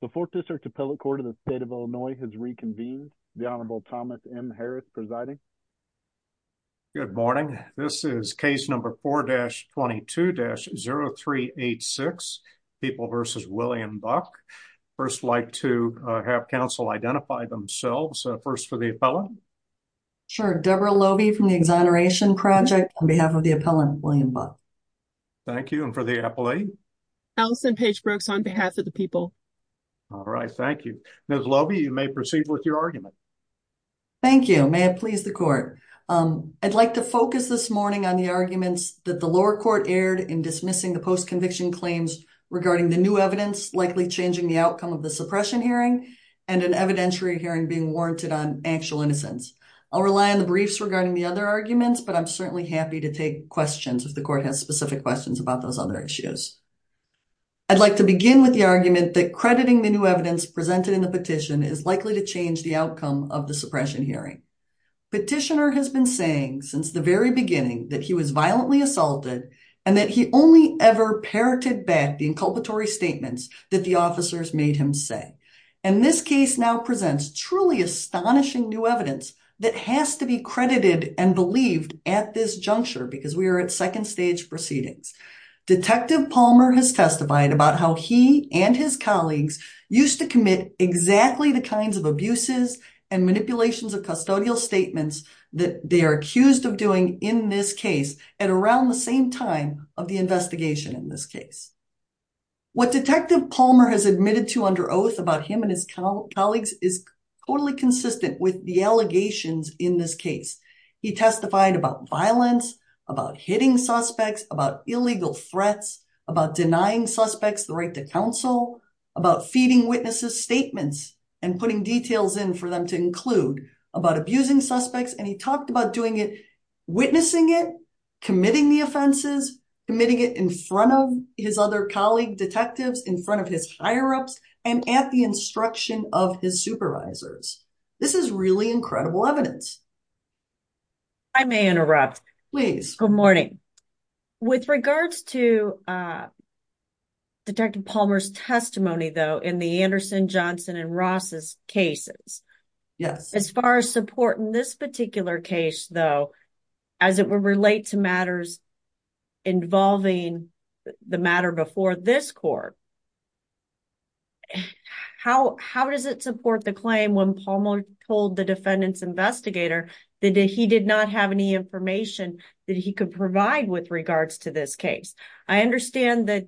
The Fourth District Appellate Court of the State of Illinois has reconvened. The Honorable Thomas M. Harris presiding. Good morning. This is case number 4-22-0386, People v. William Buck. First, I'd like to have counsel identify themselves. First, for the appellant. Sure. Deborah Lobey from the Exoneration Project on behalf of the appellant, William Buck. Thank you. And for the appellate? Allison Page Brooks on behalf of the people. All right. Thank you. Ms. Lobey, you may proceed with your argument. Thank you. May it please the court. I'd like to focus this morning on the arguments that the lower court aired in dismissing the post-conviction claims regarding the new evidence likely changing the outcome of the suppression hearing and an evidentiary hearing being warranted on actual innocence. I'll rely on the briefs regarding the other arguments, but I'm certainly happy to take questions if the court has specific questions about those other issues. I'd like to begin with the argument that crediting the new evidence presented in the petition is likely to change the outcome of the suppression hearing. Petitioner has been saying since the very beginning that he was violently assaulted and that he only ever parroted back the inculpatory statements that the officers made him say. And this case now presents truly astonishing new evidence that has to be credited and believed at this juncture because we are at second stage proceedings. Detective Palmer has testified about how he and his colleagues used to commit exactly the kinds of abuses and manipulations of custodial statements that they are accused of doing in this case at around the same time of the investigation in this case. What Detective Palmer has admitted to under oath about him and his colleagues is totally consistent with the allegations in this about illegal threats, about denying suspects the right to counsel, about feeding witnesses statements and putting details in for them to include, about abusing suspects, and he talked about doing it, witnessing it, committing the offenses, committing it in front of his other colleague detectives, in front of his higher-ups, and at the instruction of his supervisors. This is incredible evidence. I may interrupt. Please. Good morning. With regards to Detective Palmer's testimony though in the Anderson, Johnson, and Ross's cases. Yes. As far as support in this particular case though as it would relate to matters involving the matter before this court, how does it support the claim when Palmer told the defendant's investigator that he did not have any information that he could provide with regards to this case? I understand that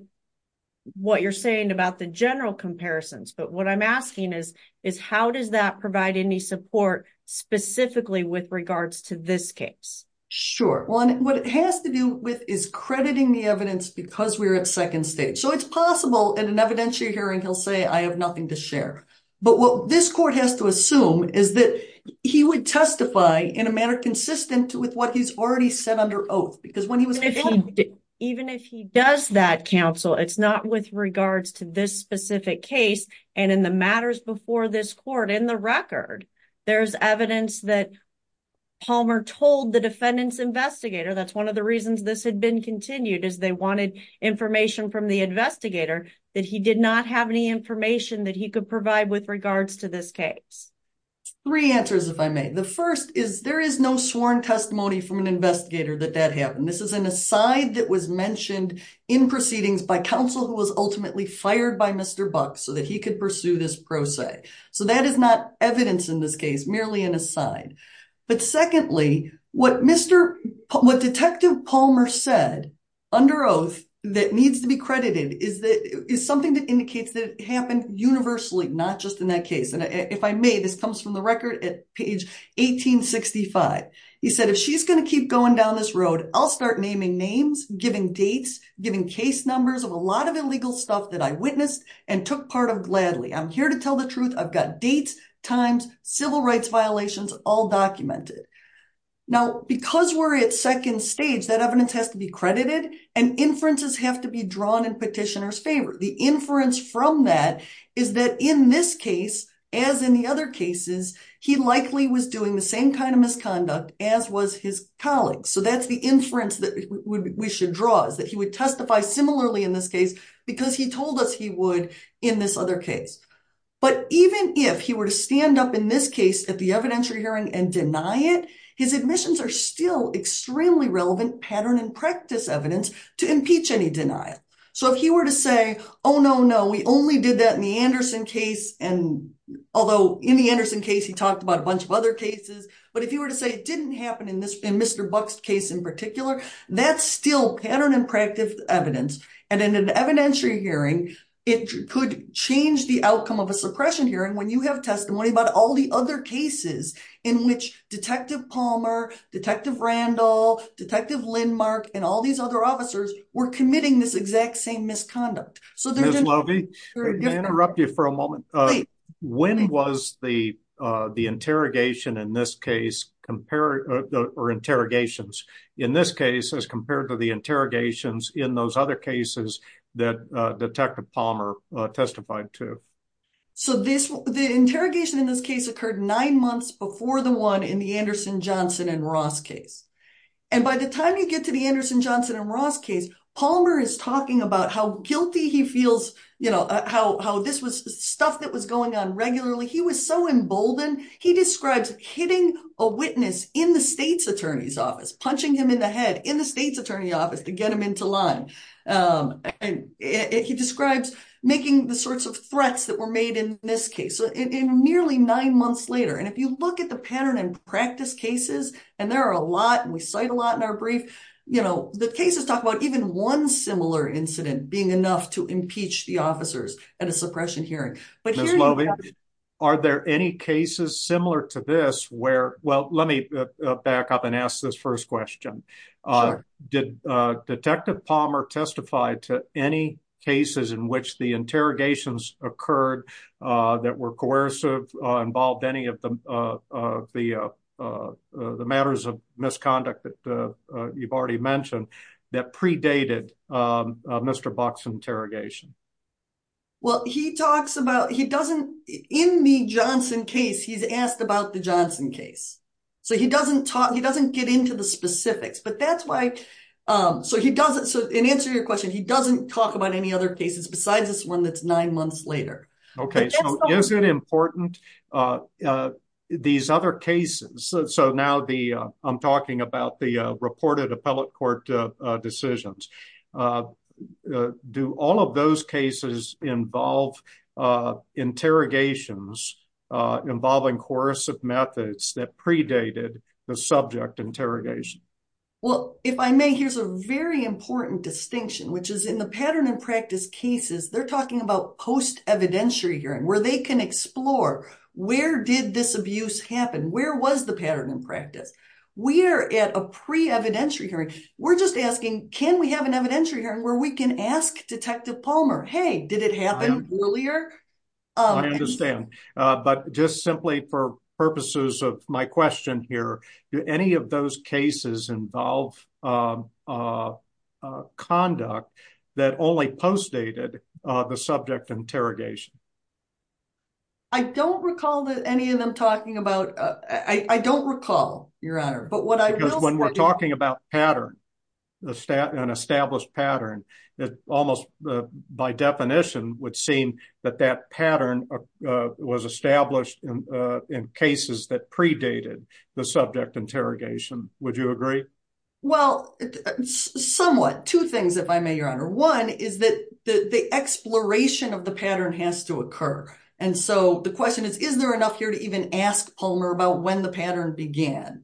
what you're saying about the general comparisons, but what I'm asking is how does that provide any support specifically with regards to this case? Sure. One, what it has to do with is crediting the evidence because we're at second stage. So it's possible in an evidentiary hearing he'll say I have nothing to share, but what this court has to assume is that he would testify in a manner consistent with what he's already said under oath because when he was... Even if he does that counsel, it's not with regards to this specific case and in the matters before this court, in the record, there's evidence that Palmer told the defendant's investigator. That's one of the reasons this had been continued as they wanted information from the investigator that he did not have any information that he could provide with regards to this case. Three answers if I may. The first is there is no sworn testimony from an investigator that that happened. This is an aside that was mentioned in proceedings by counsel who was ultimately fired by Mr. Buck so that he could pursue this pro se. So that is not evidence in this case, merely an aside. But secondly, what Detective Palmer said under oath that needs to be credited is something that indicates that it happened universally, not just in that case. And if I may, this comes from the record at page 1865. He said, if she's going to keep going down this road, I'll start naming names, giving dates, giving case numbers of a lot of illegal stuff that I witnessed and took part of gladly. I'm here to second stage, that evidence has to be credited and inferences have to be drawn in petitioner's favor. The inference from that is that in this case, as in the other cases, he likely was doing the same kind of misconduct as was his colleagues. So that's the inference that we should draw is that he would testify similarly in this case because he told us he would in this other case. But even if he were to stand up in this case at the evidentiary hearing and deny it, his admissions are still extremely relevant pattern and practice evidence to impeach any denial. So if he were to say, oh, no, no, we only did that in the Anderson case. And although in the Anderson case, he talked about a bunch of other cases. But if you were to say it didn't happen in Mr. Buck's case in particular, that's still pattern and practice evidence. And in an evidentiary hearing, it could change the outcome of a suppression hearing when you have testimony about all the other cases in which Detective Palmer, Detective Randall, Detective Lindmark and all these other officers were committing this exact same misconduct. So, Ms. Lovey, may I interrupt you for a moment? When was the interrogation in this case compared or interrogations in this case as compared to the interrogations in those other cases that the interrogation in this case occurred nine months before the one in the Anderson, Johnson and Ross case? And by the time you get to the Anderson, Johnson and Ross case, Palmer is talking about how guilty he feels, you know, how this was stuff that was going on regularly. He was so emboldened. He describes hitting a witness in the state's attorney's office, punching him in the head in the state's attorney office to get him into line. And he describes making the sorts of threats that were made in this case in nearly nine months later. And if you look at the pattern and practice cases, and there are a lot and we cite a lot in our brief, you know, the cases talk about even one similar incident being enough to impeach the officers at a suppression hearing. But Ms. Lovey, are there any cases similar to this Well, let me back up and ask this first question. Did Detective Palmer testify to any cases in which the interrogations occurred that were coercive involved any of the matters of misconduct that you've already mentioned that predated Mr. Buck's interrogation? Well, he talks about he doesn't in the Johnson case, he's asked about the Johnson case. So he doesn't talk, he doesn't get into the specifics. But that's why. So he doesn't. So in answer your question, he doesn't talk about any other cases besides this one that's nine months later. Okay, so is it important? These other cases? So now the I'm talking about the reported appellate court decisions. Do all of those cases involve interrogations involving coercive methods that predated the subject interrogation? Well, if I may, here's a very important distinction, which is in the pattern and practice cases, they're talking about post evidentiary hearing where they can explore where did this abuse happen? Where was the pattern in practice? We're at a pre evidentiary hearing, we're just asking, can we have an evidentiary hearing where we can ask Detective Palmer? Hey, did it happen earlier? I understand. But just simply for purposes of my question here, do any of those cases involve conduct that only post dated the subject interrogation? I don't recall that any of them talking about I don't recall, Your Honor, but what I was when we're talking about pattern, the stat and established pattern, that almost by definition would seem that that pattern was established in cases that predated the subject interrogation. Would you agree? Well, somewhat two things, if I may, Your Honor, one is that the exploration of the pattern has to occur. And so the question is, is there enough here to even ask Palmer about when the pattern began?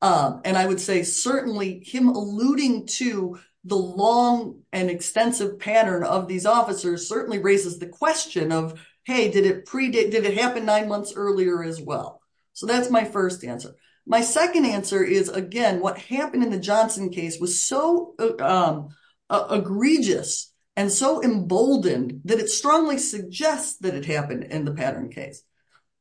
And I would say certainly him alluding to the long and extensive pattern of these officers certainly raises the question of, hey, did it happen nine months earlier as well? So that's my first answer. My second answer is, again, what happened in the Johnson case was so egregious and so emboldened that it strongly suggests that it happened in the pattern case.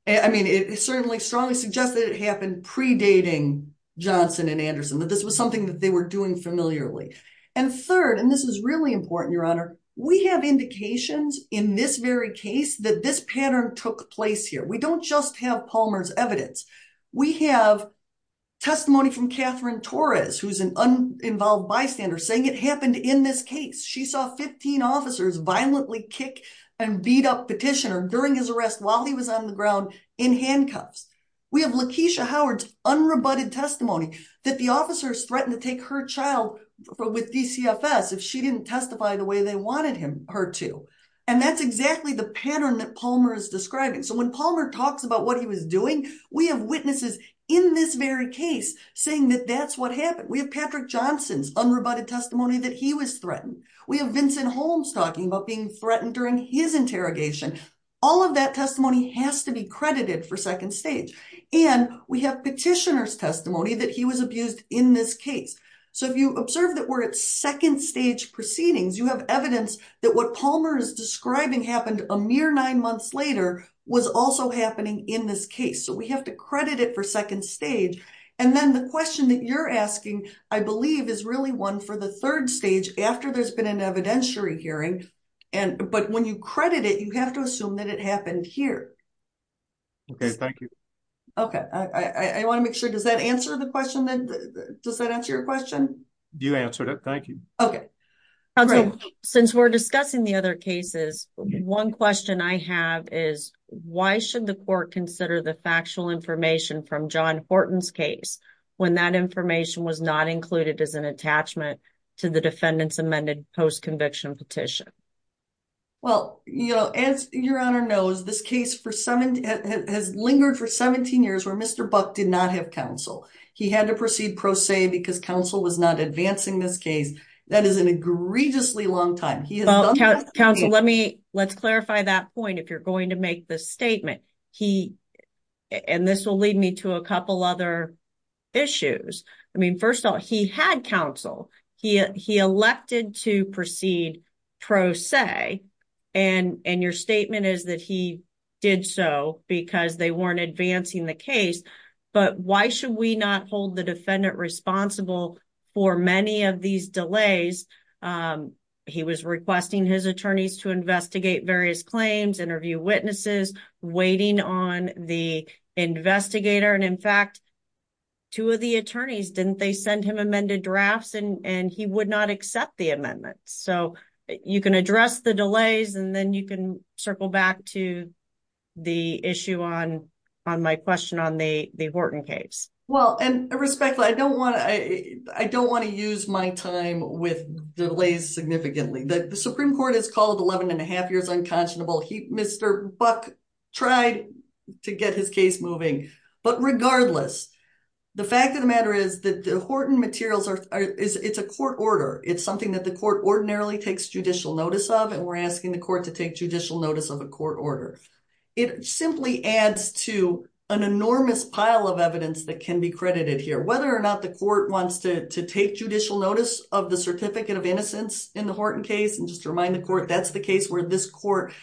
I mean, it certainly strongly suggests that it happened predating Johnson and Anderson, that this was something that they were doing familiarly. And third, and this is really important, Your Honor, we have indications in this very case that this pattern took place here. We don't just have Palmer's evidence. We have testimony from Catherine Torres, who's an uninvolved bystander, saying it happened in this case. She saw 15 officers violently kick and beat up petitioner during his arrest while he was on the ground in handcuffs. We have Lakeisha Howard's unrebutted testimony that the officers threatened to take her child with DCFS if she didn't testify the way they wanted her to. And that's exactly the pattern that Palmer is describing. So when Palmer talks about what he was doing, we have witnesses in this very case saying that that's what happened. We have Patrick Johnson's unrebutted testimony that he was threatened. We have Vincent Holmes talking about being threatened during his interrogation. All of that testimony has to be credited for second stage. And we have petitioner's testimony that he was abused in this case. So if you observe that we're at second stage proceedings, you have evidence that what Palmer is describing happened a mere nine months later was also happening in this case. So we have to credit it for second stage. And then the question that you're asking, I believe, is really one for the third stage after there's been an evidentiary hearing. But when you credit it, you have to assume that it happened here. Okay. Thank you. Okay. I want to make sure. Does that answer the question? Does that answer your question? You answered it. Thank you. Okay. Great. Since we're discussing the other cases, one question I have is why should the court consider the factual information from John Horton's case when that information was not included as an attachment to the defendant's amended post-conviction petition? Well, as your Honor knows, this case has lingered for 17 years where Mr. Buck did not have counsel. He had to proceed pro se because counsel was not advancing this case. That is an egregiously long time. He has done that- Counsel, let's clarify that point if you're going to make this statement. And this will lead me to a couple other issues. I mean, first of all, he had counsel. He elected to proceed pro se. And your statement is that he did so because they weren't advancing the case. But why should we not hold the defendant responsible for many of these delays? He was requesting his attorneys to investigate various claims, interview witnesses, waiting on the investigator. And in fact, two of the attorneys, didn't they send him amended drafts and he would not accept the amendment. So, you can address the delays and then you can answer my question on the Horton case. Well, and respectfully, I don't want to use my time with delays significantly. The Supreme Court has called 11 and a half years unconscionable. Mr. Buck tried to get his case moving. But regardless, the fact of the matter is that the Horton materials, it's a court order. It's something that the court ordinarily takes judicial notice of. And we're asking the court to take judicial notice of a court order. It simply adds to an enormous pile of evidence that can be credited here. Whether or not the court wants to take judicial notice of the Certificate of Innocence in the Horton case. And just to remind the court, that's the case where this court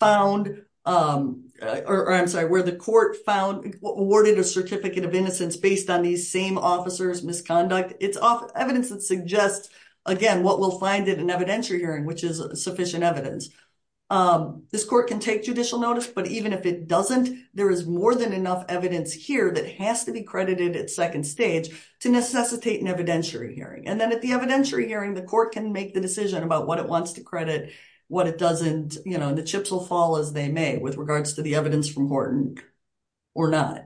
found, or I'm sorry, where the court found, awarded a Certificate of Innocence based on these same officers' misconduct. It's evidence that suggests, again, what we'll find in an evidentiary hearing, which is sufficient evidence. This court can take judicial notice, but even if it doesn't, there is more than enough evidence here that has to be credited at second stage to necessitate an evidentiary hearing. And then at the evidentiary hearing, the court can make the decision about what it wants to credit, what it doesn't, you know, and the chips will fall as they may, with regards to the evidence from Horton or not.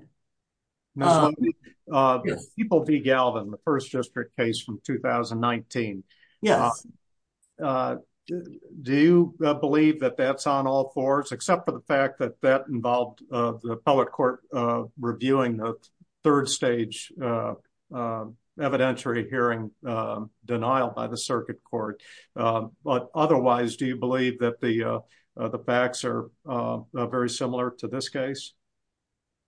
Ms. Lundy, the People v. Galvin, the first district case from 2019. Do you believe that that's on all fours, except for the fact that that involved the appellate court reviewing the third stage evidentiary hearing denial by the circuit court? But otherwise, do you believe that the facts are very similar to this case?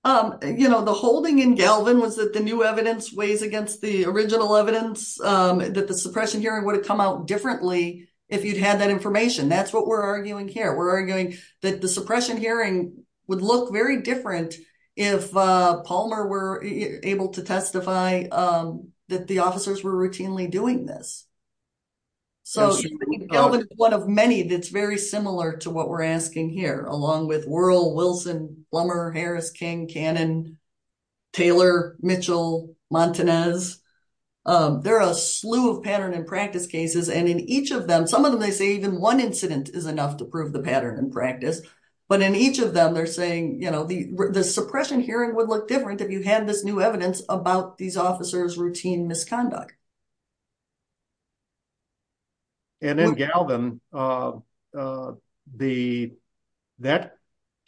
Um, you know, the holding in Galvin was that the new evidence weighs against the original evidence, that the suppression hearing would have come out differently if you'd had that information. That's what we're arguing here. We're arguing that the suppression hearing would look very different if Palmer were able to testify that the officers were routinely doing this. So, Galvin is one of many that's very similar to what we're asking here, along with Wuerl, Wilson, Plummer, Harris, King, Cannon, Taylor, Mitchell, Montanez. They're a slew of pattern and practice cases, and in each of them, some of them they say even one incident is enough to prove the pattern in practice, but in each of them they're saying, you know, the suppression hearing would look different if you had this new evidence about these officers' routine misconduct. And in Galvin, uh, uh, the, that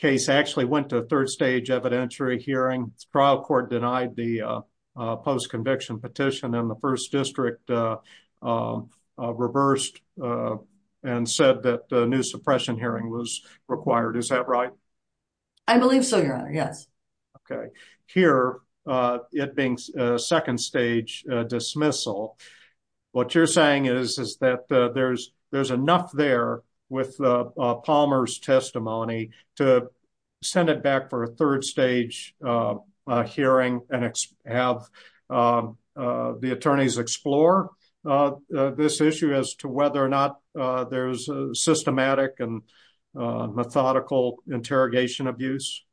case actually went to a third stage evidentiary hearing. The trial court denied the, uh, uh, post-conviction petition, and the first district, uh, uh, uh, reversed, uh, and said that the new suppression hearing was required. Is that right? I believe so, Your Honor, yes. Okay. Here, uh, it being a second stage, uh, dismissal, what you're saying is, is that, uh, there's, there's enough there with, uh, uh, Palmer's testimony to send it back for a third stage, uh, uh, hearing and have, um, uh, the attorneys explore, uh, uh, this issue as to whether or not, uh, there's a systematic and, uh, methodical interrogation abuse?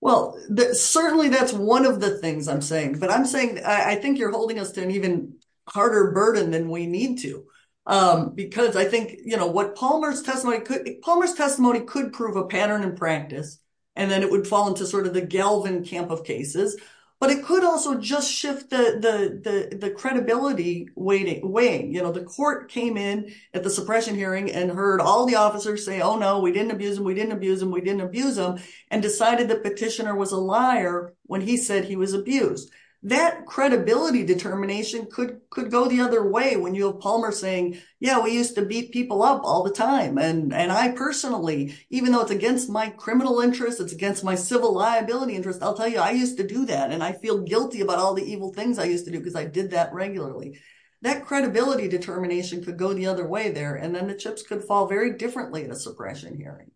Well, certainly that's one of the things I'm saying, but I'm saying, I think you're holding us to an even harder burden than we need to, um, because I think, you know, what Palmer's testimony could, Palmer's testimony could prove a pattern in practice, and then it would fall into sort of the Galvin camp of cases, but it could also just shift the, the, the, the credibility way, you know, the court came in at the suppression hearing and heard all the officers say, oh no, we didn't abuse him, we didn't abuse him, we didn't abuse him, and decided the petitioner was a liar when he said he was abused. That credibility determination could, could go the other way when you have Palmer saying, yeah, we used to beat people up all the time, and, and I personally, even though it's against my criminal interests, it's against my civil liability interests, I'll tell you, I used to do that, and I feel guilty about all the evil things I used to do because I did that regularly. That credibility determination could go the other way there, and then the chips could fall very differently at a suppression hearing.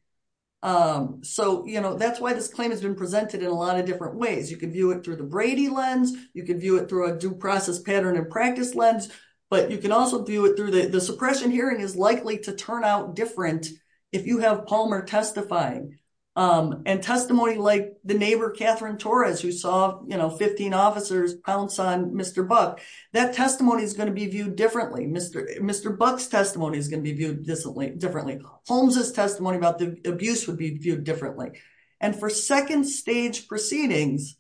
Um, so, you know, that's why this claim has been presented in a lot of different ways. You can view it through the Brady lens, you can view it through a due process pattern and practice lens, but you can also view it through the, the suppression hearing is likely to turn out different if you have Palmer testifying, and testimony like the neighbor, Catherine Torres, who saw, you know, 15 officers pounce on Mr. Buck, that testimony is going to be viewed differently. Mr., Mr. Buck's testimony is going to be viewed distantly, differently. Holmes's testimony about the abuse would be viewed differently, and for second stage proceedings,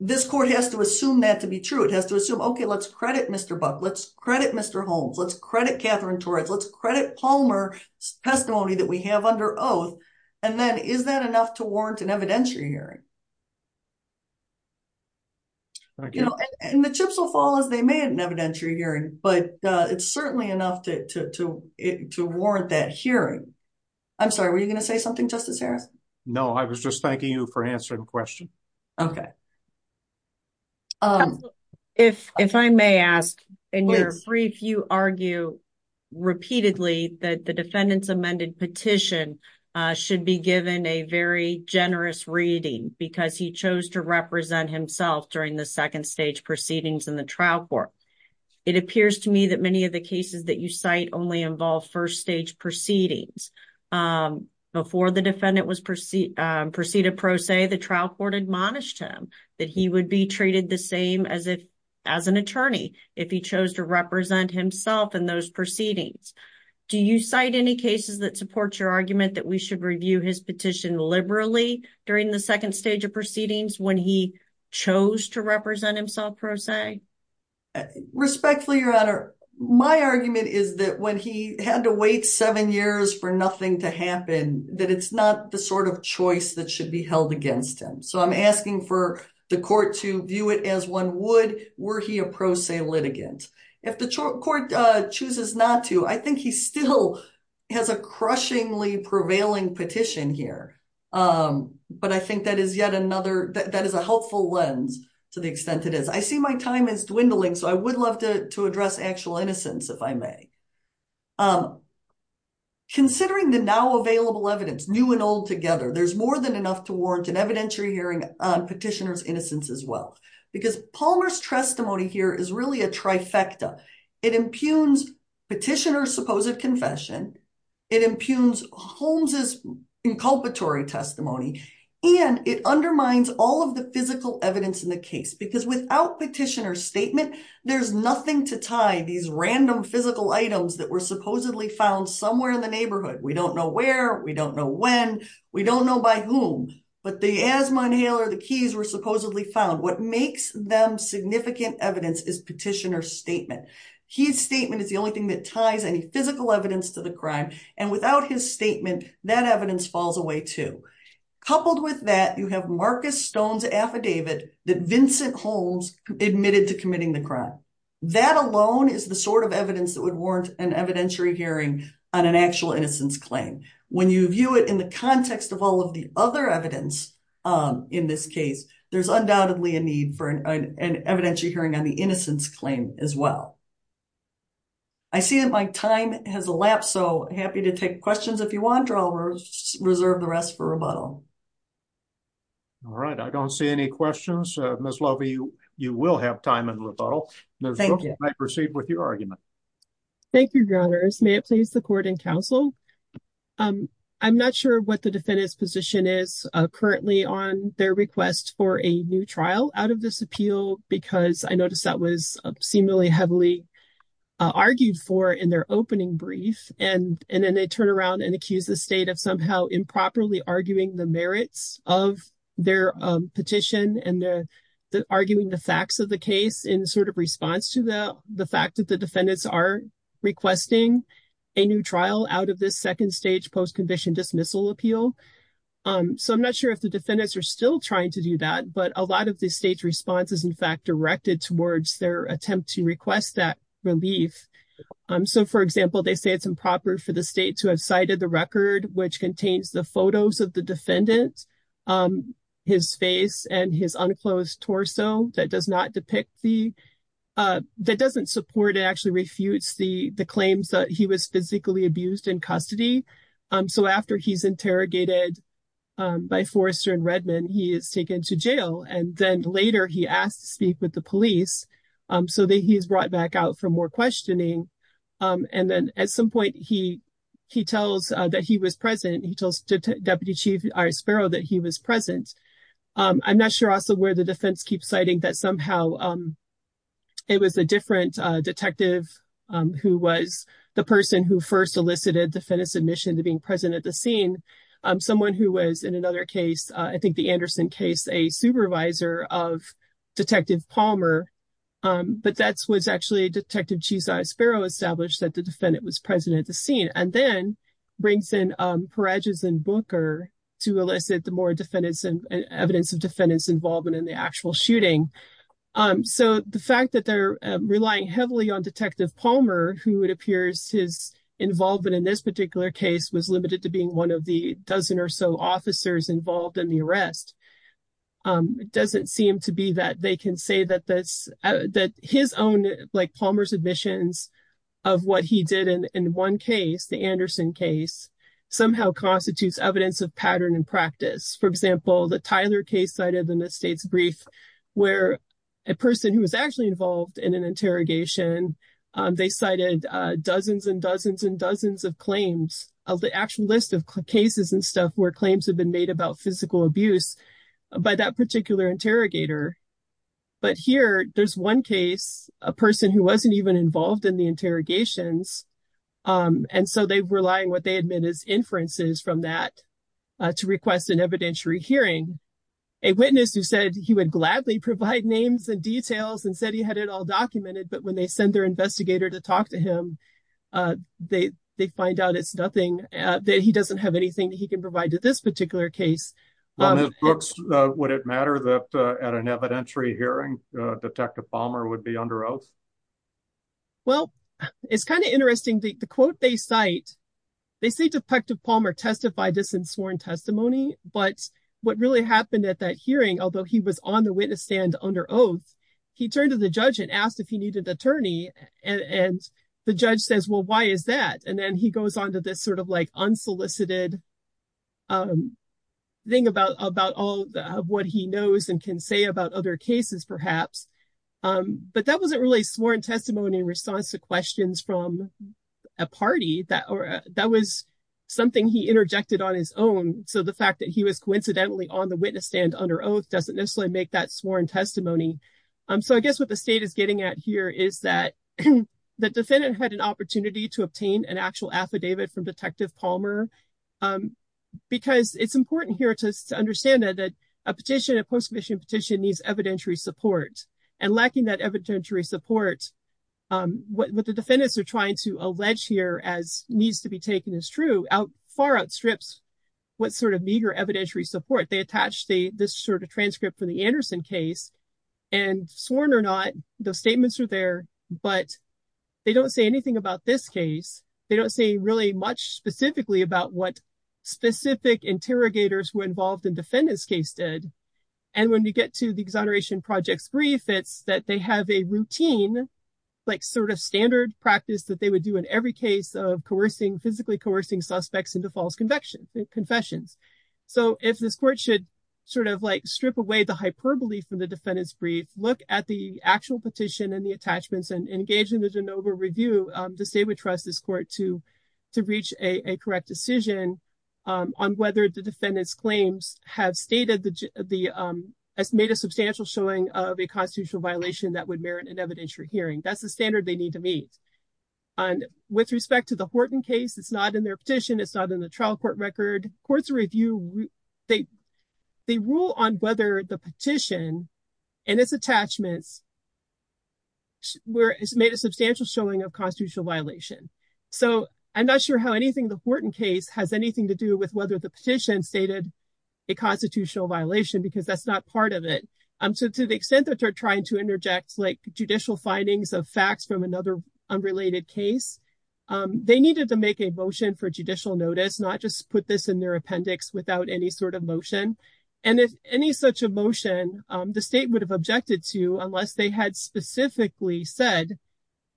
this court has to assume that to be true. It has to assume, okay, let's credit Mr. Buck, let's credit Mr. Holmes, let's credit Catherine Torres, let's credit Palmer's testimony that we have under oath, and then is that enough to warrant an evidentiary hearing? But it's certainly enough to, to, to, to warrant that hearing. I'm sorry, were you going to say something, Justice Harris? No, I was just thanking you for answering the question. Okay. Um, if, if I may ask, in your brief, you argue repeatedly that the defendant's amended petition should be given a very generous reading because he chose to represent himself during the second stage proceedings in the trial court. It appears to me that many of the cases that you cite only involve first stage proceedings. Um, before the defendant was proceeded, proceeded pro se, the trial court admonished him that he would be treated the same as if, as an attorney, if he chose to represent himself in those proceedings. Do you cite any cases that support your argument that we should review his petition liberally during the second stage of pro se? Respectfully, Your Honor, my argument is that when he had to wait seven years for nothing to happen, that it's not the sort of choice that should be held against him. So I'm asking for the court to view it as one would, were he a pro se litigant. If the court, uh, chooses not to, I think he still has a crushingly prevailing petition here. Um, but I think that is yet another, that is a helpful lens to the extent it is. I see my time is dwindling, so I would love to, to address actual innocence if I may. Um, considering the now available evidence, new and old together, there's more than enough to warrant an evidentiary hearing on petitioner's innocence as well. Because Palmer's testimony here is really a trifecta. It impugns petitioner's confession, it impugns Holmes's inculpatory testimony, and it undermines all of the physical evidence in the case. Because without petitioner's statement, there's nothing to tie these random physical items that were supposedly found somewhere in the neighborhood. We don't know where, we don't know when, we don't know by whom, but the asthma inhaler, the keys were supposedly found. What makes them significant evidence is petitioner's statement. His statement is the only that ties any physical evidence to the crime, and without his statement, that evidence falls away too. Coupled with that, you have Marcus Stone's affidavit that Vincent Holmes admitted to committing the crime. That alone is the sort of evidence that would warrant an evidentiary hearing on an actual innocence claim. When you view it in the context of all of the other evidence, um, in this case, there's undoubtedly a need for an evidentiary hearing on the innocence claim as well. I see that my time has elapsed, so happy to take questions if you want, or I'll reserve the rest for rebuttal. All right, I don't see any questions. Ms. Lovey, you will have time in rebuttal. Thank you. I proceed with your argument. Thank you, Your Honors. May it please the Court and Counsel, um, I'm not sure what the defendant's position is, uh, currently on their request for a new trial out of this appeal, because I noticed that was seemingly heavily argued for in their opening brief, and, and then they turn around and accuse the state of somehow improperly arguing the merits of their, um, petition, and they're arguing the facts of the case in sort of response to the, the fact that the defendants are requesting a new trial out of this second stage post-conviction dismissal appeal. Um, so I'm not sure if the defendants are still trying to do that, but a lot of the state's response is, in fact, directed towards their attempt to request that relief. Um, so for example, they say it's improper for the state to have cited the record, which contains the photos of the defendant, um, his face and his unclosed torso that does not depict the, uh, that doesn't support, it actually refutes the, the claims that he was physically abused in custody. Um, so after he's interrogated, um, by Forrester and Redman, he is taken to jail, and then later he asked to speak with the police, um, so that he is brought back out for more questioning. Um, and then at some point he, he tells, uh, that he was present. He tells Deputy Chief Iris Sparrow that he was present. Um, I'm not sure also where the defense keeps citing that somehow, um, it was a different, uh, detective, um, who was the person who first elicited defendant's admission to being present at the scene. Um, someone who was, in another case, uh, I think the Anderson case, a supervisor of Detective Palmer, um, but that's what's actually Detective Chief Iris Sparrow established that the defendant was present at the scene, and then brings in, um, Paragis and Booker to elicit the more defendants and evidence of defendants involvement in the actual shooting. Um, so the fact that they're relying heavily on Detective Palmer, who it appears his involvement in this particular case was limited to being one of the dozen or so officers involved in the arrest, um, doesn't seem to be that they can say that this, uh, that his own, like, Palmer's admissions of what he did in one case, the Anderson case, somehow constitutes evidence of pattern and practice. For example, the Tyler case cited in the state's brief, where a person who was actually involved in an interrogation, um, they cited, uh, dozens and dozens and dozens of claims of the actual list of cases and stuff where claims have been made about physical abuse by that particular interrogator. But here, there's one case, a person who wasn't even involved in the interrogations, um, and so they were relying what they admit as inferences from that, uh, to request an evidentiary hearing. A witness who said he would gladly provide names and details and said he had it all documented, but when they send their investigator to talk to him, uh, they, they find out it's nothing, uh, that he doesn't have anything that he can provide to this particular case. Um, On his books, uh, would it matter that, uh, at an evidentiary hearing, uh, Detective Palmer would be under oath? Well, it's kind of interesting. The, the quote they cite, they say Detective Palmer testified this in sworn testimony, but what really happened at that hearing, although he was on the witness oath, he turned to the judge and asked if he needed an attorney. And the judge says, well, why is that? And then he goes on to this sort of like unsolicited, um, thing about, about all of what he knows and can say about other cases perhaps. Um, but that wasn't really sworn testimony in response to questions from a party that, or that was something he interjected on his own. So the fact that he was coincidentally on the witness stand under oath doesn't necessarily make that sworn testimony. Um, so I guess what the state is getting at here is that the defendant had an opportunity to obtain an actual affidavit from Detective Palmer. Um, because it's important here to understand that, that a petition, a post-commissioned petition needs evidentiary support and lacking that evidentiary support. Um, what the defendants are trying to allege here as this sort of transcript for the Anderson case and sworn or not, those statements are there, but they don't say anything about this case. They don't say really much specifically about what specific interrogators were involved in defendant's case did. And when you get to the exoneration projects brief, it's that they have a routine, like sort of standard practice that they would do in every case of coercing, physically coercing suspects into false confessions. So if this court should sort of like strip away the hyperbole from the defendant's brief, look at the actual petition and the attachments and engage in the Genova review, the state would trust this court to, to reach a correct decision, um, on whether the defendant's claims have stated the, um, as made a substantial showing of a constitutional violation that would merit an evidentiary hearing. That's the standard they need to meet. And with respect to the Horton case, it's not in their petition. It's not in the trial court record courts review. They, they rule on whether the petition and its attachments where it's made a substantial showing of constitutional violation. So I'm not sure how anything, the Horton case has anything to do with whether the petition stated a constitutional violation, because that's not part of it. Um, so to the extent that you're trying to interject like judicial findings of unrelated case, um, they needed to make a motion for judicial notice, not just put this in their appendix without any sort of motion. And if any such emotion, um, the state would have objected to unless they had specifically said,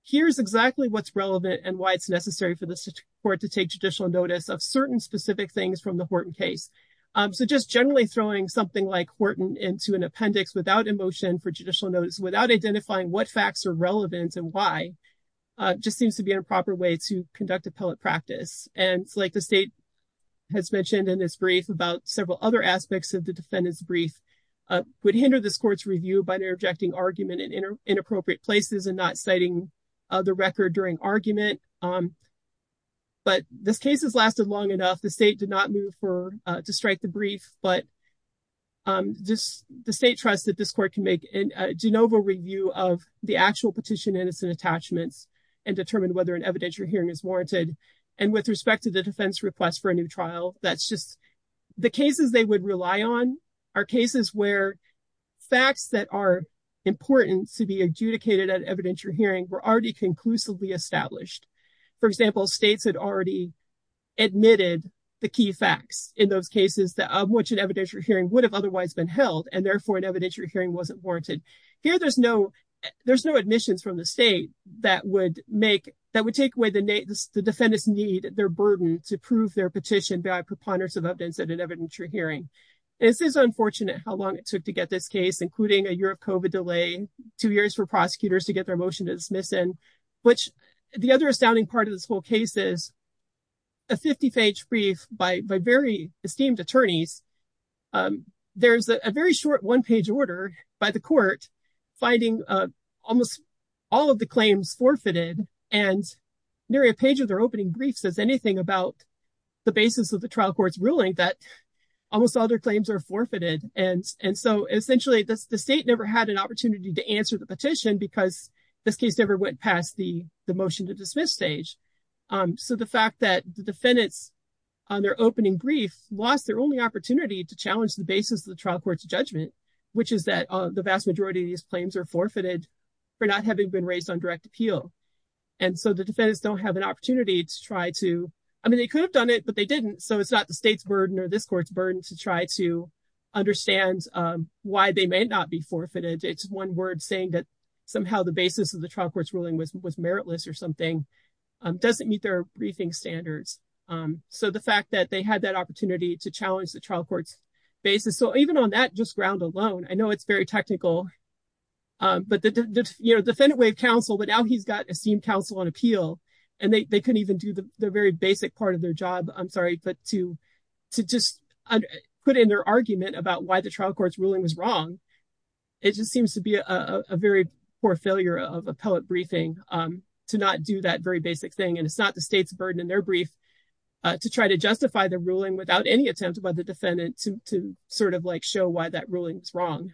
here's exactly what's relevant and why it's necessary for the court to take judicial notice of certain specific things from the Horton case. Um, so just generally throwing something like Horton into an appendix without emotion for judicial notice, without identifying what facts are relevant and why, uh, just seems to be an improper way to conduct appellate practice. And it's like the state has mentioned in this brief about several other aspects of the defendant's brief, uh, would hinder this court's review by interjecting argument in inner inappropriate places and not citing the record during argument. Um, but this case has lasted long enough. The state did not move for, uh, to strike the brief, but, um, just the trust that this court can make in a de novo review of the actual petition innocent attachments and determine whether an evidentiary hearing is warranted. And with respect to the defense request for a new trial, that's just the cases they would rely on are cases where facts that are important to be adjudicated at evidentiary hearing were already conclusively established. For example, states had already admitted the key facts in those cases that an evidentiary hearing would have otherwise been held and therefore an evidentiary hearing wasn't warranted here. There's no, there's no admissions from the state that would make, that would take away the name. The defendants need their burden to prove their petition by preponderance of evidence at an evidentiary hearing. This is unfortunate how long it took to get this case, including a year of COVID delay, two years for prosecutors to get their motion to dismiss in which the other astounding part of this whole case is a 50 page brief by very esteemed attorneys. There's a very short one page order by the court finding almost all of the claims forfeited and nearly a page of their opening brief says anything about the basis of the trial court's ruling that almost all their claims are forfeited. And so essentially the state never had an opportunity to answer the petition because this case never went past the motion to dismiss stage. So the fact that the defendants on their opening brief lost their only opportunity to challenge the basis of the trial court's judgment, which is that the vast majority of these claims are forfeited for not having been raised on direct appeal. And so the defendants don't have an opportunity to try to, I mean, they could have done it, but they didn't. So it's not the state's burden or this court's burden to try to understand why they may not be forfeited. It's one word saying that somehow the basis of the trial court's ruling was meritless or something doesn't meet their briefing standards. So the fact that they had that opportunity to challenge the trial court's basis. So even on that just ground alone, I know it's very technical, but the defendant way of counsel, but now he's got esteemed counsel on appeal and they couldn't even do the very basic part of their job. I'm sorry, but to just put in their argument about why the trial court's ruling was wrong, it just seems to be a very poor failure of appellate briefing to not do that very basic thing. And it's not the state's burden in their brief to try to justify the ruling without any attempt by the defendant to sort of like show why that ruling is wrong.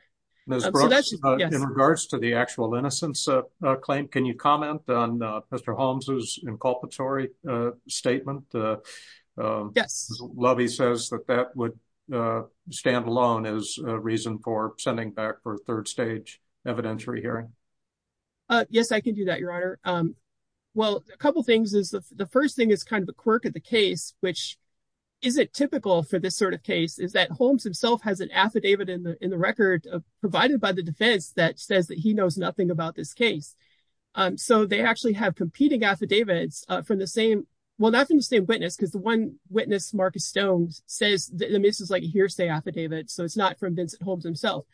In regards to the actual innocence claim, can you comment on Mr. Holmes's reason for sending back for a third stage evidentiary hearing? Yes, I can do that, Your Honor. Well, a couple of things is the first thing is kind of a quirk of the case, which isn't typical for this sort of case is that Holmes himself has an affidavit in the record provided by the defense that says that he knows nothing about this case. So they actually have competing affidavits from the same, well, not from the same witness because the one witness, Marcus Stones, says that this is like a hearsay affidavit. So it's not from Vincent Holmes himself.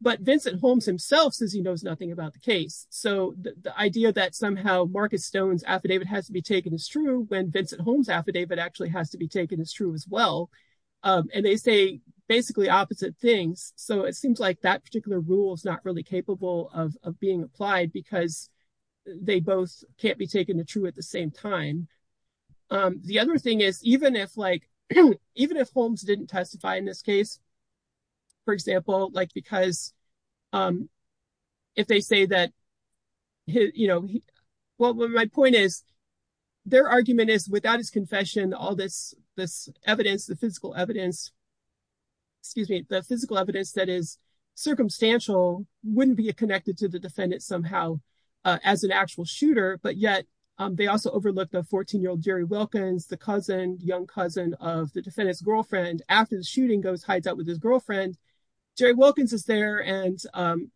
But Vincent Holmes himself says he knows nothing about the case. So the idea that somehow Marcus Stones affidavit has to be taken as true when Vincent Holmes affidavit actually has to be taken as true as well. And they say basically opposite things. So it seems like that particular rule is not really capable of being applied because they both can't be taken the true at same time. The other thing is even if Holmes didn't testify in this case, for example, like because if they say that, you know, well, my point is their argument is without his confession, all this evidence, the physical evidence, excuse me, the physical evidence that is circumstantial wouldn't be connected to the defendant somehow as an actual shooter. But yet they also overlook the 14-year-old Jerry Wilkins, the cousin, young cousin of the defendant's girlfriend. After the shooting goes, hides out with his girlfriend, Jerry Wilkins is there and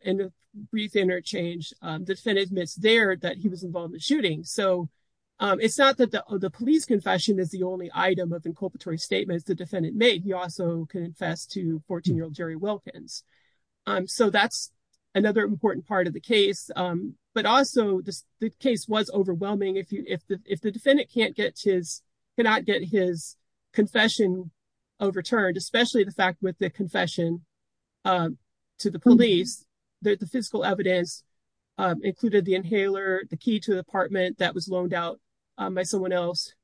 in a brief interchange, the defendant admits there that he was involved in the shooting. So it's not that the police confession is the only item of the inculpatory statement the defendant made. He also confessed to 14-year-old Jerry Wilkins. So that's another important part of the but also the case was overwhelming. If the defendant cannot get his confession overturned, especially the fact with the confession to the police, the physical evidence included the inhaler, the key to the apartment that was loaned out by someone else.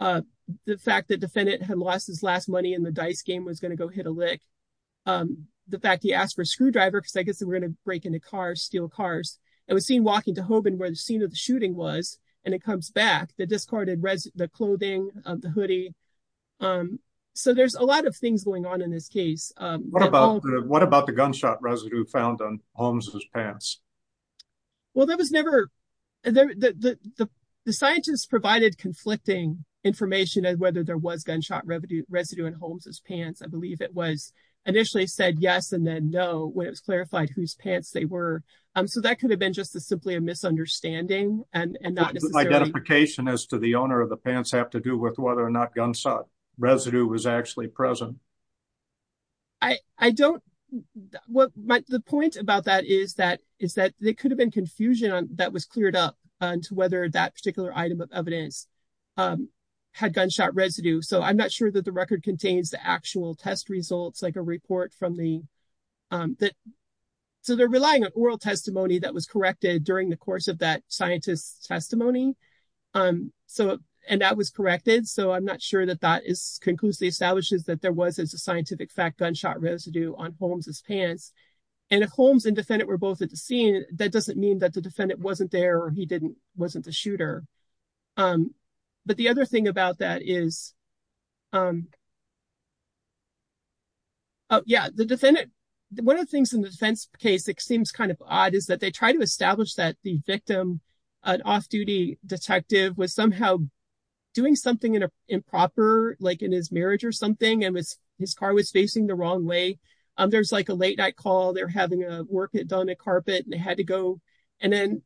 The fact that defendant had lost his last money in the dice game was going to go hit a lick. The fact he asked for a screwdriver, we're going to break into cars, steal cars. It was seen walking to Hoban where the scene of the shooting was and it comes back, the discarded clothing, the hoodie. So there's a lot of things going on in this case. What about the gunshot residue found on Holmes's pants? Well, there was never, the scientists provided conflicting information as whether there was gunshot residue in Holmes's pants. I believe it was initially said yes, and then no, when it was clarified whose pants they were. So that could have been just simply a misunderstanding. Identification as to the owner of the pants have to do with whether or not gunshot residue was actually present. The point about that is that there could have been confusion that was cleared up on to whether that particular item of evidence had gunshot residue. So I'm not sure that the record contains the actual test results, like a report from the, so they're relying on oral testimony that was corrected during the course of that scientist's testimony. And that was corrected, so I'm not sure that that conclusively establishes that there was scientific fact gunshot residue on Holmes's pants. And if Holmes and defendant were both at the scene, that doesn't mean that the defendant wasn't there or he wasn't the shooter. But the other thing about that is, oh yeah, the defendant, one of the things in the defense case that seems kind of odd is that they try to establish that the victim, an off-duty detective, was somehow doing something in a improper, like in his marriage or something, and his car was facing the wrong way. There's like a late night call, they're having a work done on a carpet, and they had to go, and then,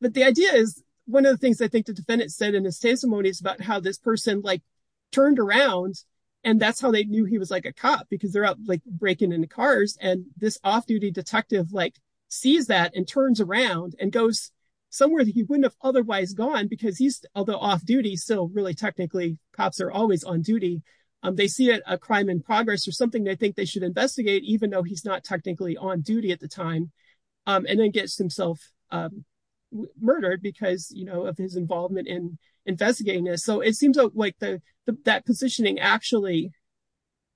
but the idea is, one of the things I think the defendant said in his testimony is about how this person like turned around, and that's how they knew he was like a cop, because they're out like breaking into cars, and this off-duty detective like sees that and turns around and goes somewhere that he wouldn't have otherwise gone, because he's, although off-duty, still really technically, cops are always on duty. They see a crime in progress or something they think they should investigate, even though he's not technically on duty at the time, and then gets himself murdered because, you know, of his involvement in investigating this. So it seems like that positioning actually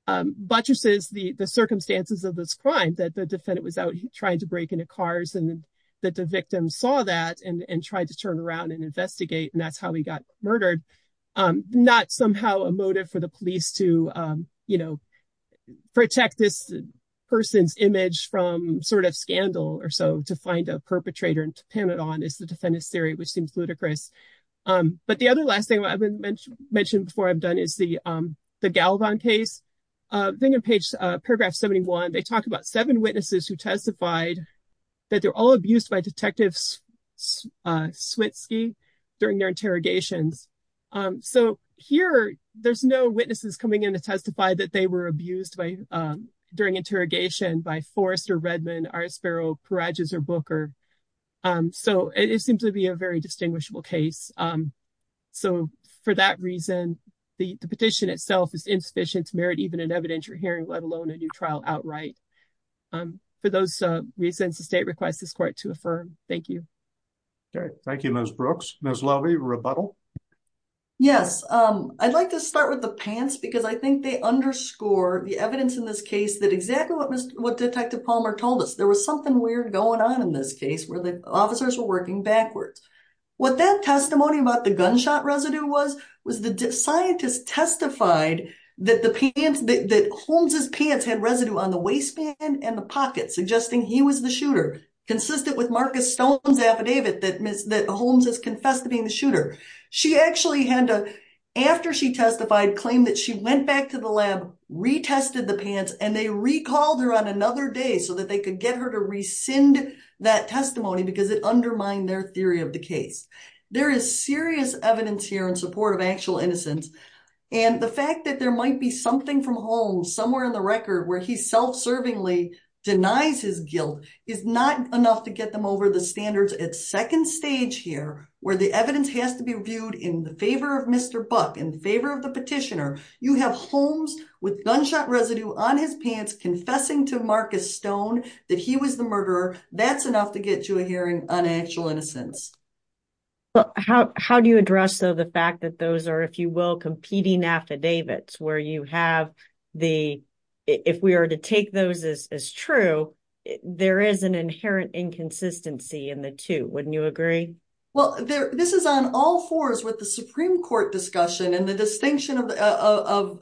buttresses the circumstances of this crime, that the defendant was out trying to break into cars, and that the victim saw that and tried to turn around and investigate, and that's how he got murdered. Not somehow a motive for the police to, you know, protect this person's sort of scandal or so, to find a perpetrator and to pin it on is the defendant's theory, which seems ludicrous. But the other last thing I've mentioned before I'm done is the Galvan case. I think on page, paragraph 71, they talk about seven witnesses who testified that they're all abused by Detective Switsky during their interrogations. So here, there's no witnesses coming in to testify that they were abused during interrogation by Forrester, Redmond, Arsperow, Peragis, or Booker. So it seems to be a very distinguishable case. So for that reason, the petition itself is insufficient to merit even an evidentiary hearing, let alone a new trial outright. For those reasons, the state requests this court to affirm. Thank you. Okay, thank you, Ms. Brooks. Ms. Lovey, rebuttal. Yes, I'd like to start with the pants because I think they underscore the evidence in this case that exactly what Detective Palmer told us. There was something weird going on in this case where the officers were working backwards. What that testimony about the gunshot residue was, was the scientist testified that Holmes' pants had residue on the waistband and the pocket, suggesting he was the shooter, consistent with Marcus Stone's affidavit that Holmes has confessed to being the shooter. She actually had to, after she testified, claim that she went back to the lab, retested the pants, and they recalled her on another day so that they could get her to rescind that testimony because it undermined their theory of the case. There is serious evidence here in support of actual innocence. And the fact that there might be something from Holmes somewhere in the record where he self-servingly denies his guilt is not enough to get them over the standards. It's second stage here where the evidence has to be reviewed in favor of Mr. Buck, in favor of the petitioner. You have Holmes with gunshot residue on his pants confessing to Marcus Stone that he was the murderer. That's enough to get you a hearing on actual innocence. How do you address the fact that those are, if you will, competing affidavits where you have the, if we are to take those as true, there is an inherent inconsistency in the two. Wouldn't you agree? Well, this is on all fours with the Supreme Court discussion and the distinction of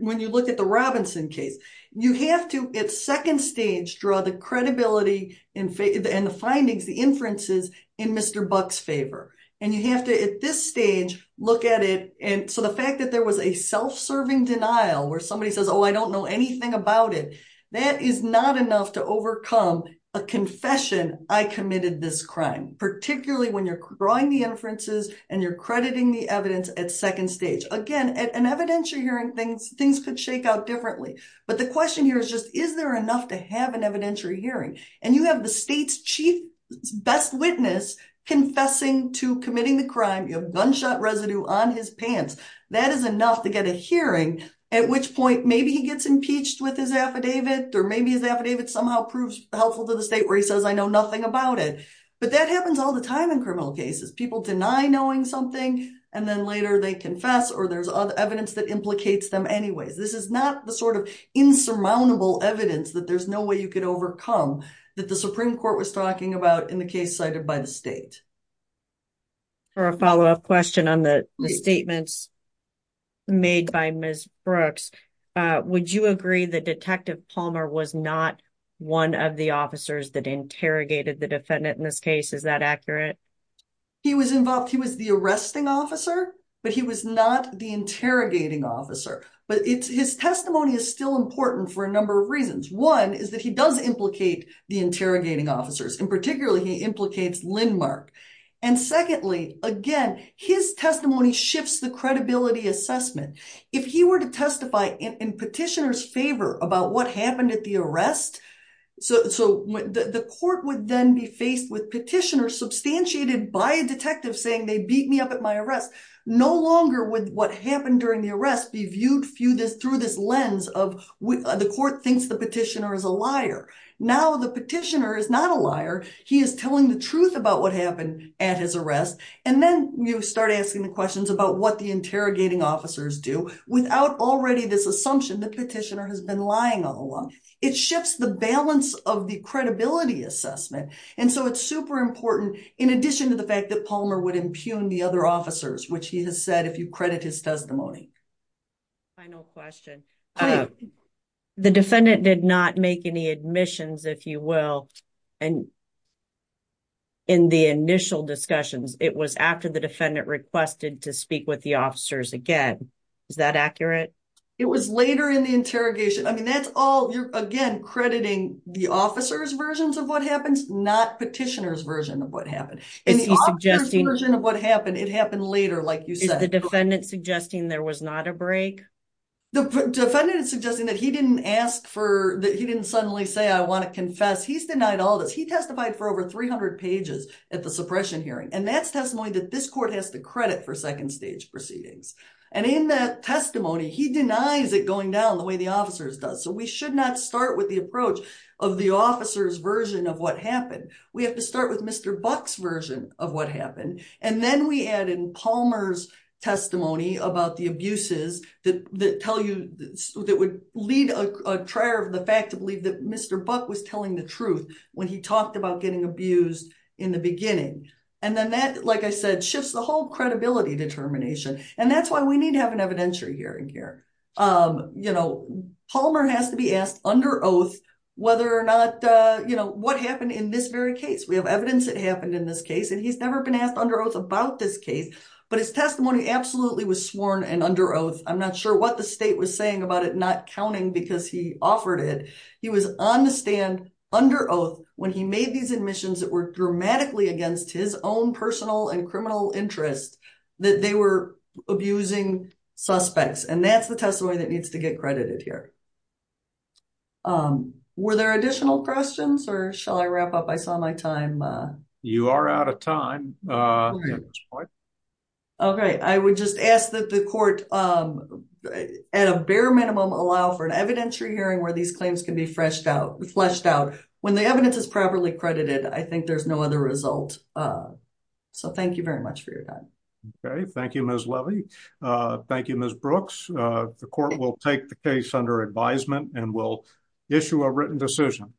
when you look at the Robinson case. You have to, at second stage, draw the credibility and the findings, the inferences, in Mr. Buck's favor. And you have to, at this stage, look at it. And so the fact that there was a self-serving denial where somebody says, oh, I don't know anything about it, that is not enough to overcome a confession, I committed this crime, particularly when you're drawing the inferences and you're crediting the evidence at second stage. Again, at an evidentiary hearing, things could shake out differently. But the question here is just, is there enough to have an evidentiary hearing? And you have the state's chief best witness confessing to committing the crime. You have gunshot residue on his pants. That is enough to get a hearing, at which point, maybe he gets impeached with his affidavit, or maybe his affidavit somehow proves helpful to the state where he says, I know nothing about it. But that happens all the time in criminal cases. People deny knowing something, and then later they confess, or there's other evidence that you could overcome that the Supreme Court was talking about in the case cited by the state. For a follow-up question on the statements made by Ms. Brooks, would you agree that Detective Palmer was not one of the officers that interrogated the defendant in this case? Is that accurate? He was involved. He was the arresting officer, but he was not the interrogating officer. But his testimony is still important for a number of reasons. One is that he does implicate the interrogating officers, and particularly, he implicates Lindmark. And secondly, again, his testimony shifts the credibility assessment. If he were to testify in petitioner's favor about what happened at the arrest, so the court would then be faced with petitioners substantiated by a detective saying, they beat me up at my arrest. No longer would what happened during the arrest be viewed through this lens of the court thinks the petitioner is a liar. Now the petitioner is not a liar. He is telling the truth about what happened at his arrest. And then you start asking the questions about what the interrogating officers do without already this assumption the petitioner has been lying all along. It shifts the balance of the credibility assessment. And so it's super important, in addition to the fact that Palmer would impugn the other officers, which he has said, if you credit his testimony. Final question. The defendant did not make any admissions, if you will. And in the initial discussions, it was after the defendant requested to speak with the officers again. Is that accurate? It was later in the interrogation. I mean, that's all you're again, crediting the officers versions of what happens, not petitioners version of what happened. And the officer's version of what happened, it happened later, like you said. Is the defendant suggesting there was not a break? The defendant is suggesting that he didn't ask for, that he didn't suddenly say, I want to confess. He's denied all this. He testified for over 300 pages at the suppression hearing. And that's testimony that this court has to credit for second stage proceedings. And in that testimony, he denies it going down the way the officers does. So we should not start with the approach of the officer's version of what happened. We have to start with Mr. Buck's version of what happened. And then we add in Palmer's testimony about the abuses that would lead a trier of the fact to believe that Mr. Buck was telling the truth when he talked about getting abused in the beginning. And then that, like I said, shifts the whole credibility determination. And that's why we need to have an evidence that happened in this case. And he's never been asked under oath about this case, but his testimony absolutely was sworn and under oath. I'm not sure what the state was saying about it not counting because he offered it. He was on the stand under oath when he made these admissions that were dramatically against his own personal and criminal interests, that they were abusing suspects. And that's the testimony that needs to get credited here. Were there additional questions or shall I wrap up? I saw my time. You are out of time. Okay. I would just ask that the court at a bare minimum allow for an evidentiary hearing where these claims can be fleshed out. When the evidence is properly credited, I think there's no other result. So thank you very much for your time. Okay. Thank you, Ms. Levy. Thank you, Ms. Brooks. The court will take the case under advisement and will issue a written decision.